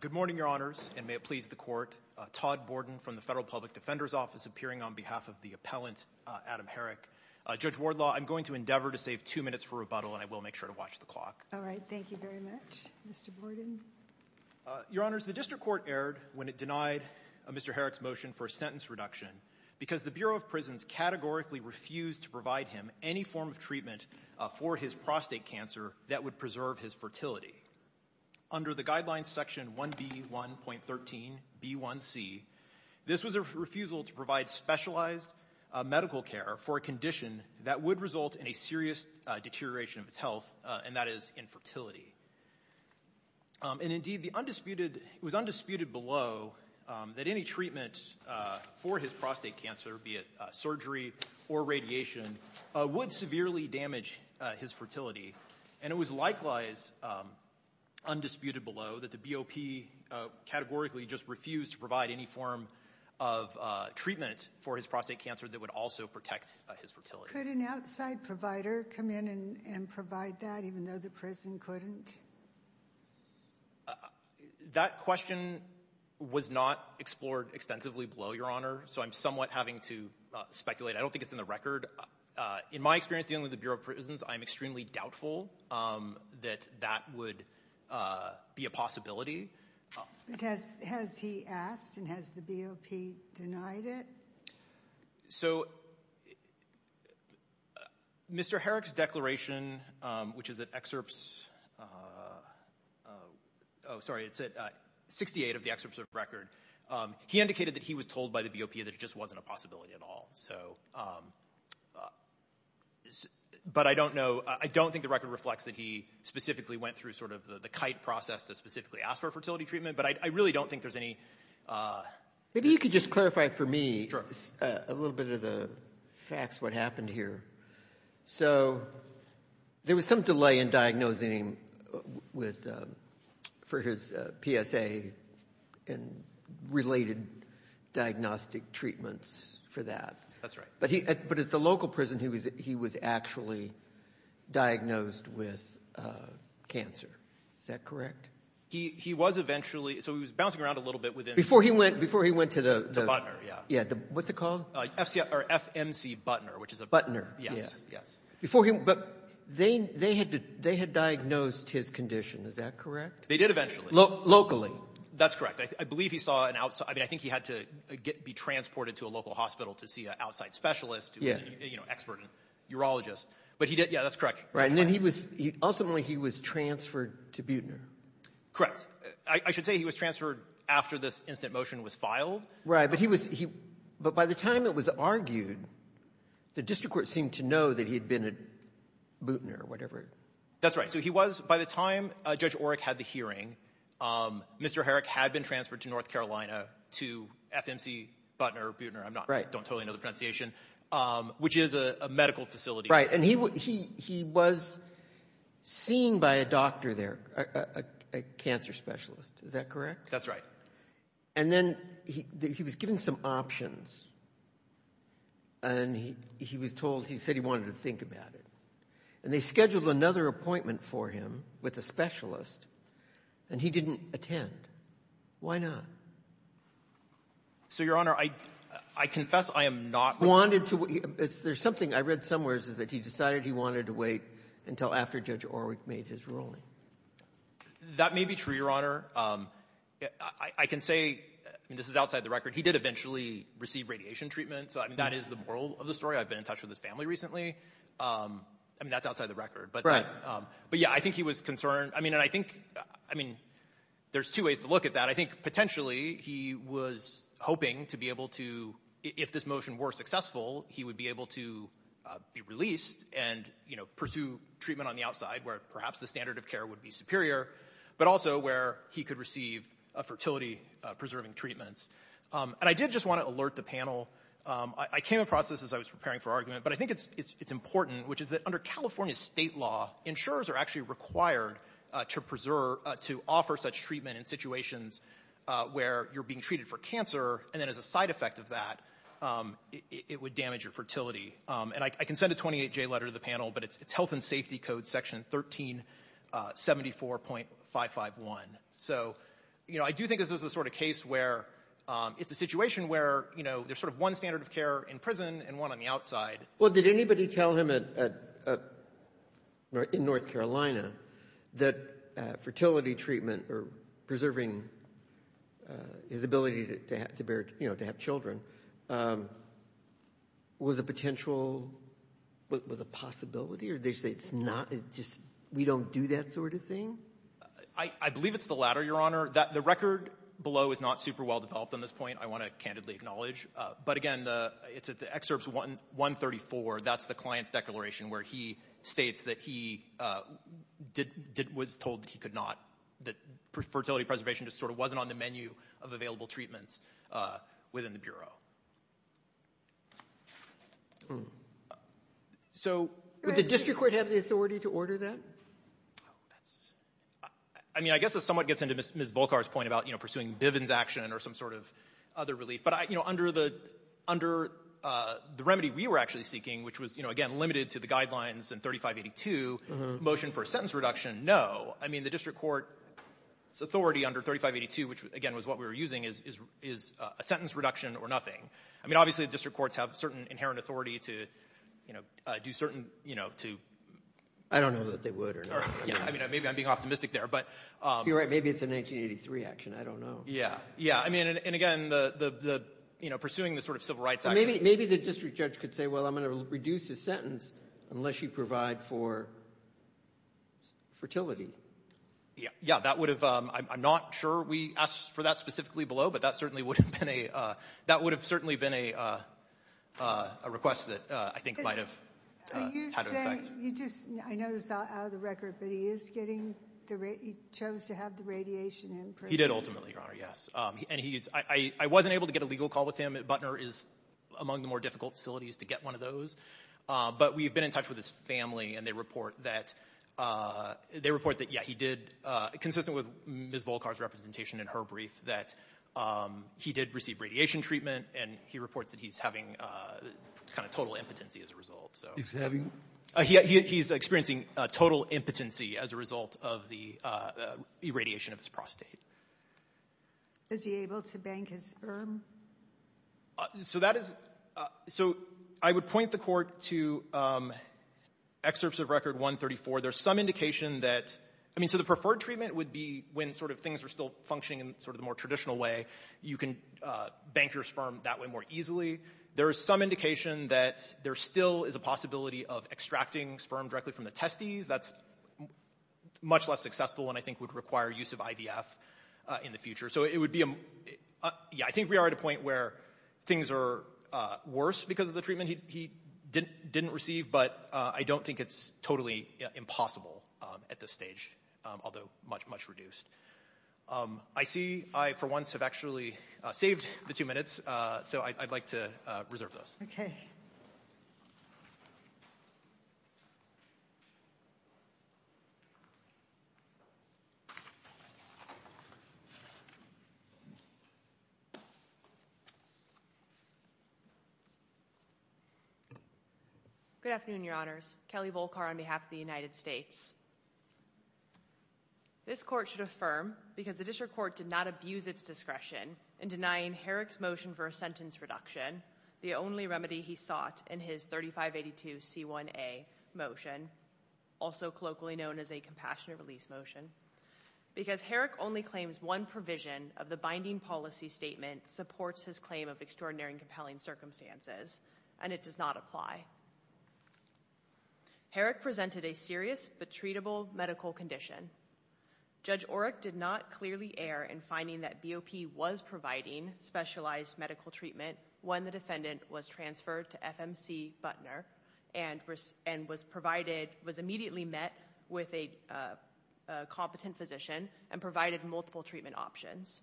Good morning, Your Honors, and may it please the Court. Todd Borden from the Federal Public Defender's Office, appearing on behalf of the appellant, Adam Herrick. Judge Wardlaw, I'm going to endeavor to save two minutes for rebuttal, and I will make sure to watch the clock. All right. Thank you very much. Mr. Borden? Your Honors, the District Court erred when it denied Mr. Herrick's motion for a sentence reduction because the Bureau of Prisons categorically refused to provide him any form of treatment for his prostate cancer that would preserve his fertility. Under the Guidelines Section 1B1.13b1c, this was a refusal to provide specialized medical care for a condition that would result in a serious deterioration of his health, and that is infertility. And indeed, it was undisputed below that any treatment for his prostate cancer, be it surgery or radiation, would severely damage his fertility. And it was likewise undisputed below that the BOP categorically just refused to provide any form of treatment for his prostate cancer that would also protect his fertility. Could an outside provider come in and provide that, even though the prison couldn't? That question was not explored extensively below, Your Honor, so I'm somewhat having to speculate. I don't think it's in the record. In my experience dealing with the Bureau of Prisons, I'm extremely doubtful that that would be a possibility. Has he asked, and has the BOP denied it? So Mr. Herrick's declaration, which is at Excerpts 68 of the Excerpts of the Record, he indicated that he was told by the BOP that it just wasn't a possibility at all. But I don't know. I don't think the record reflects that he specifically went through sort of the kite process to specifically ask for a fertility treatment, but I really don't think there's any. Maybe you could just clarify for me a little bit of the facts, what happened here. So there was some delay in diagnosing him for his PSA and related diagnostic treatments for that. That's right. But at the local prison, he was actually diagnosed with cancer. Is that correct? He was eventually – so he was bouncing around a little bit within the – Before he went to the – To Butner, yeah. What's it called? FMC Butner, which is a – Yes. Yes. Before he – but they had diagnosed his condition. Is that correct? They did eventually. Locally. That's correct. I believe he saw an – I mean, I think he had to be transported to a local hospital to see an outside specialist who was an expert urologist. But he did – yeah, that's correct. Right. And then he was – ultimately, he was transferred to Butner. Correct. I should say he was transferred after this instant motion was filed. Right. But he was – but by the time it was argued, the district court seemed to know that he had been at Butner or whatever. That's right. So he was – by the time Judge Orrick had the hearing, Mr. Herrick had been transferred to North Carolina to FMC Butner or Butner. I'm not – don't totally know the pronunciation, which is a medical facility. Right. And he was seen by a doctor there, a cancer specialist. Is that correct? That's right. And then he was given some options, and he was told – he said he wanted to think about it. And they scheduled another appointment for him with a specialist, and he didn't attend. Why not? So, Your Honor, I confess I am not – Wanted to – there's something I read somewhere that he decided he wanted to wait until after Judge Orrick made his ruling. That may be true, Your Honor. I can say – I mean, this is outside the record. He did eventually receive radiation treatment. So, I mean, that is the moral of the story. I've been in touch with his family recently. I mean, that's outside the record. Right. But, yeah, I think he was concerned. I mean, and I think – I mean, there's two ways to look at that. I think potentially he was hoping to be able to – if this motion were successful, he would be able to be released and, you know, pursue treatment on the outside, where perhaps the standard of care would be superior, but also where he could receive fertility-preserving treatments. And I did just want to alert the panel. I came across this as I was preparing for argument, but I think it's important, which is that under California state law, insurers are actually required to preserve – to offer such treatment in situations where you're being treated for cancer, and then as a side effect of that, it would damage your fertility. And I can send a 28-J letter to the panel, but it's Health and Safety Code Section 1374.551. So, you know, I do think this is the sort of case where it's a situation where, you know, there's sort of one standard of care in prison and one on the outside. Well, did anybody tell him in North Carolina that fertility treatment or preserving his ability to have children was a potential – was a possibility? Or did they say it's not – just we don't do that sort of thing? I believe it's the latter, Your Honor. The record below is not super well developed on this point, I want to candidly acknowledge. But, again, it's at the excerpts 134. That's the client's declaration where he states that he was told he could not – that fertility preservation just sort of wasn't on the menu of available treatments within the Bureau. Would the district court have the authority to order that? I mean, I guess this somewhat gets into Ms. Volkar's point about, you know, pursuing Bivens action or some sort of other relief. But, you know, under the remedy we were actually seeking, which was, you know, again, limited to the guidelines in 3582, motion for a sentence reduction, no. I mean, the district court's authority under 3582, which, again, was what we were using, is a sentence reduction or nothing. I mean, obviously the district courts have certain inherent authority to, you know, do certain, you know, to – I don't know that they would or not. I mean, maybe I'm being optimistic there, but – You're right. Maybe it's a 1983 action. I don't know. Yeah. I mean, and again, the – you know, pursuing the sort of Civil Rights Act – Maybe the district judge could say, well, I'm going to reduce his sentence unless you provide for fertility. Yeah. That would have – I'm not sure we asked for that specifically below, but that certainly would have been a – that would have certainly been a request that I think might have had an effect. Are you saying – you just – I know this is all out of the record, but he is getting the – he chose to have the radiation in prison. He did ultimately, Your Honor. Yes. And he's – I wasn't able to get a legal call with him. Butner is among the more difficult facilities to get one of those. But we've been in touch with his family, and they report that – they report that, yeah, he did – consistent with Ms. Volkar's representation in her brief that he did receive radiation treatment, and he reports that he's having kind of total impotency as a result. He's having – he's experiencing total impotency as a result of the irradiation of his prostate. Is he able to bank his sperm? So that is – so I would point the court to excerpts of Record 134. There's some indication that – I mean, so the preferred treatment would be when sort of things were still functioning in sort of the more traditional way. You can bank your sperm that way more easily. There is some indication that there still is a possibility of extracting sperm directly from the testes. That's much less successful and I think would require use of IVF in the future. So it would be – yeah, I think we are at a point where things are worse because of the treatment he didn't receive. But I don't think it's totally impossible at this stage, although much, much reduced. I see I, for once, have actually saved the two minutes. So I'd like to reserve those. Good afternoon, Your Honors. Kelly Volkar on behalf of the United States. This court should affirm, because the district court did not abuse its discretion in denying Herrick's motion for a sentence reduction, the only remedy he sought in his 3582C1A motion, also colloquially known as a compassionate release motion, because Herrick only claims one provision of the binding policy statement supports his claim of extraordinary and compelling circumstances, and it does not apply. Herrick presented a serious but treatable medical condition. Judge Orrick did not clearly err in finding that BOP was providing specialized medical treatment when the defendant was transferred to FMC Butner and was immediately met with a competent physician and provided multiple treatment options.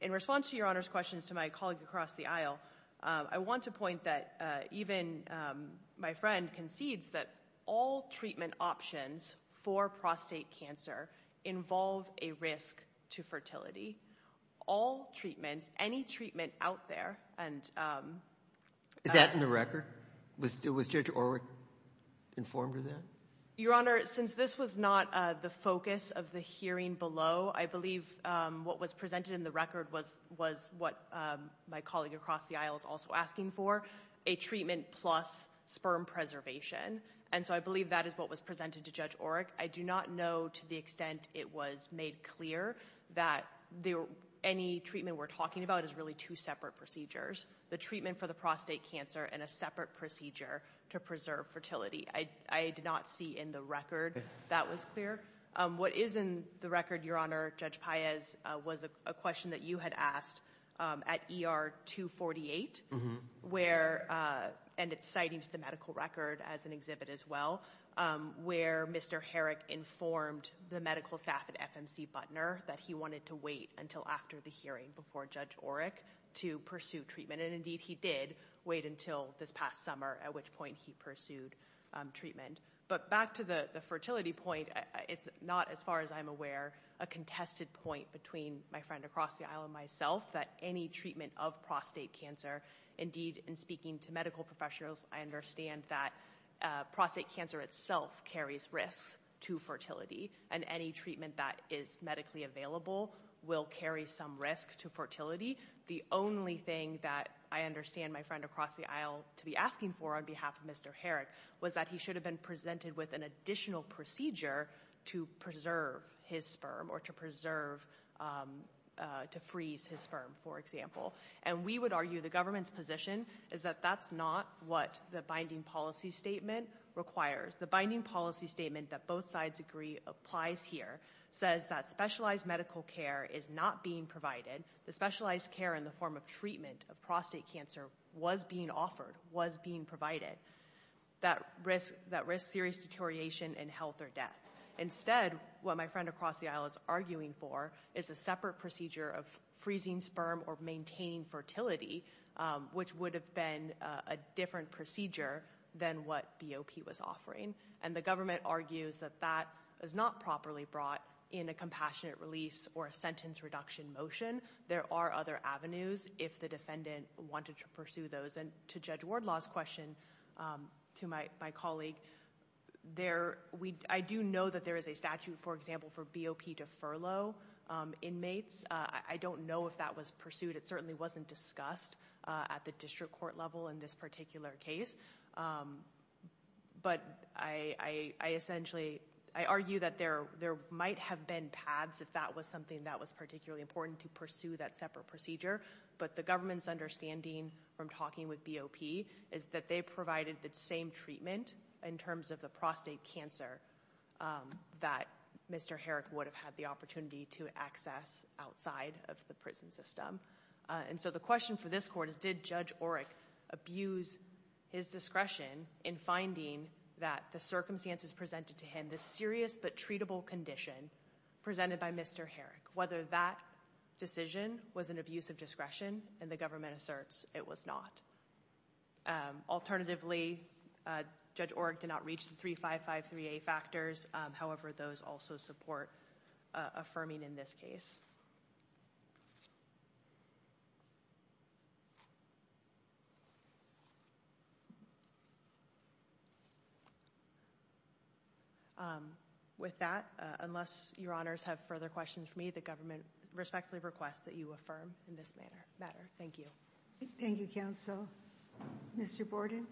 In response to Your Honor's questions to my colleagues across the aisle, I want to point that even my friend concedes that all treatment options for prostate cancer involve a risk to fertility. All treatments, any treatment out there, and... Is that in the record? Was Judge Orrick informed of that? Your Honor, since this was not the focus of the hearing below, I believe what was presented in the record was what my colleague across the aisle was also asking for, a treatment plus sperm preservation. And so I believe that is what was presented to Judge Orrick. I do not know to the extent it was made clear that any treatment we're talking about is really two separate procedures, the treatment for the prostate cancer and a separate procedure to preserve fertility. I did not see in the record that was clear. What is in the record, Your Honor, Judge Paez, was a question that you had asked at ER 248, and it's citing to the medical record as an exhibit as well, where Mr. Herrick informed the medical staff at FMC Butner that he wanted to wait until after the hearing before Judge Orrick to pursue treatment. And indeed he did wait until this past summer, at which point he pursued treatment. But back to the fertility point, it's not, as far as I'm aware, a contested point between my friend across the aisle and myself that any treatment of prostate cancer, indeed in speaking to medical professionals, I understand that prostate cancer itself carries risk to fertility, and any treatment that is medically available will carry some risk to fertility. The only thing that I understand my friend across the aisle to be asking for on behalf of Mr. Herrick was that he should have been presented with an additional procedure to preserve his sperm or to preserve, to freeze his sperm, for example. And we would argue the government's position is that that's not what the binding policy statement requires. The binding policy statement that both sides agree applies here says that specialized medical care is not being provided, the specialized care in the form of treatment of prostate cancer was being offered, was being provided, that risks serious deterioration in health or death. Instead, what my friend across the aisle is arguing for is a separate procedure of freezing sperm or maintaining fertility, which would have been a different procedure than what BOP was offering. And the government argues that that is not properly brought in a compassionate release or a sentence reduction motion. There are other avenues if the defendant wanted to pursue those. And to Judge Wardlaw's question, to my colleague, I do know that there is a statute, for example, for BOP to furlough inmates. I don't know if that was pursued. It certainly wasn't discussed at the district court level in this particular case. But I argue that there might have been paths if that was something that was particularly important to pursue that separate procedure. But the government's understanding from talking with BOP is that they provided the same treatment in terms of the prostate cancer that Mr. Herrick would have had the opportunity to access outside of the prison system. And so the question for this court is, did Judge Oreck abuse his discretion in finding that the circumstances presented to him, and the serious but treatable condition presented by Mr. Herrick, whether that decision was an abuse of discretion. And the government asserts it was not. Alternatively, Judge Oreck did not reach the 3553A factors. However, those also support affirming in this case. With that, unless your honors have further questions for me, the government respectfully requests that you affirm in this manner. Thank you. Thank you, counsel. Mr. Borden.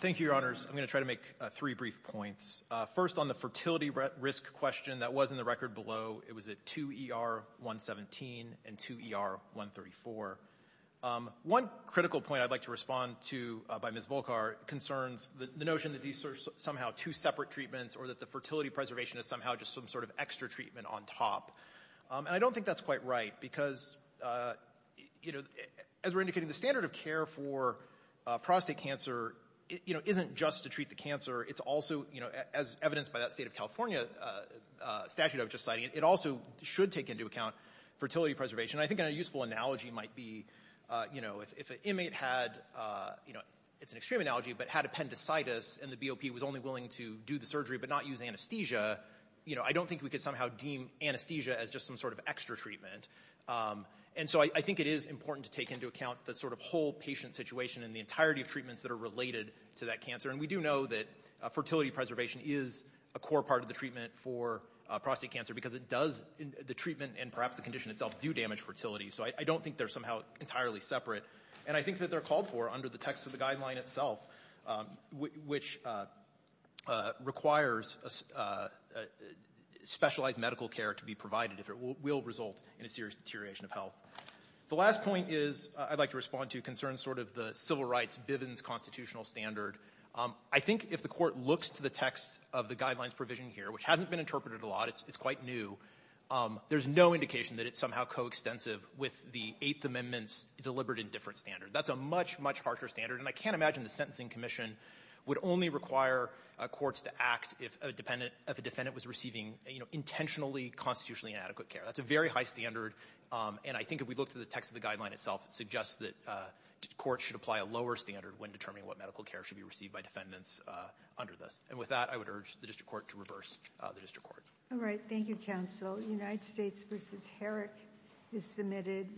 Thank you, your honors. I'm going to try to make three brief points. First, on the fertility risk question that was in the record below, it was at 2ER117 and 2ER134. One critical point I'd like to respond to by Ms. Volkar concerns the notion that these are somehow two separate treatments or that the fertility preservation is somehow just some sort of extra treatment on top. And I don't think that's quite right because, you know, as we're indicating, the standard of care for prostate cancer, you know, isn't just to treat the cancer. It's also, you know, as evidenced by that State of California statute I was just citing, it also should take into account fertility preservation. And I think a useful analogy might be, you know, if an inmate had, you know, it's an extreme analogy, but had appendicitis and the BOP was only willing to do the surgery but not use anesthesia, you know, I don't think we could somehow deem anesthesia as just some sort of extra treatment. And so I think it is important to take into account the sort of whole patient situation and the entirety of treatments that are related to that cancer. And we do know that fertility preservation is a core part of the treatment for prostate cancer because it does, the treatment and perhaps the condition itself do damage fertility. So I don't think they're somehow entirely separate. And I think that they're called for under the text of the guideline itself, which requires specialized medical care to be provided if it will result in a serious deterioration of health. The last point is I'd like to respond to concerns sort of the civil rights Bivens constitutional standard. I think if the Court looks to the text of the guidelines provision here, which hasn't been interpreted a lot, it's quite new, there's no indication that it's somehow coextensive with the Eighth Amendment's deliberate and different standard. That's a much, much harsher standard. And I can't imagine the Sentencing Commission would only require courts to act if a defendant was receiving, you know, intentionally constitutionally inadequate care. That's a very high standard. And I think if we look to the text of the guideline itself, it suggests that courts should apply a lower standard when determining what medical care should be received by defendants under this. And with that, I would urge the district court to reverse the district court. All right. Thank you, counsel. The United States v. Herrick is submitted.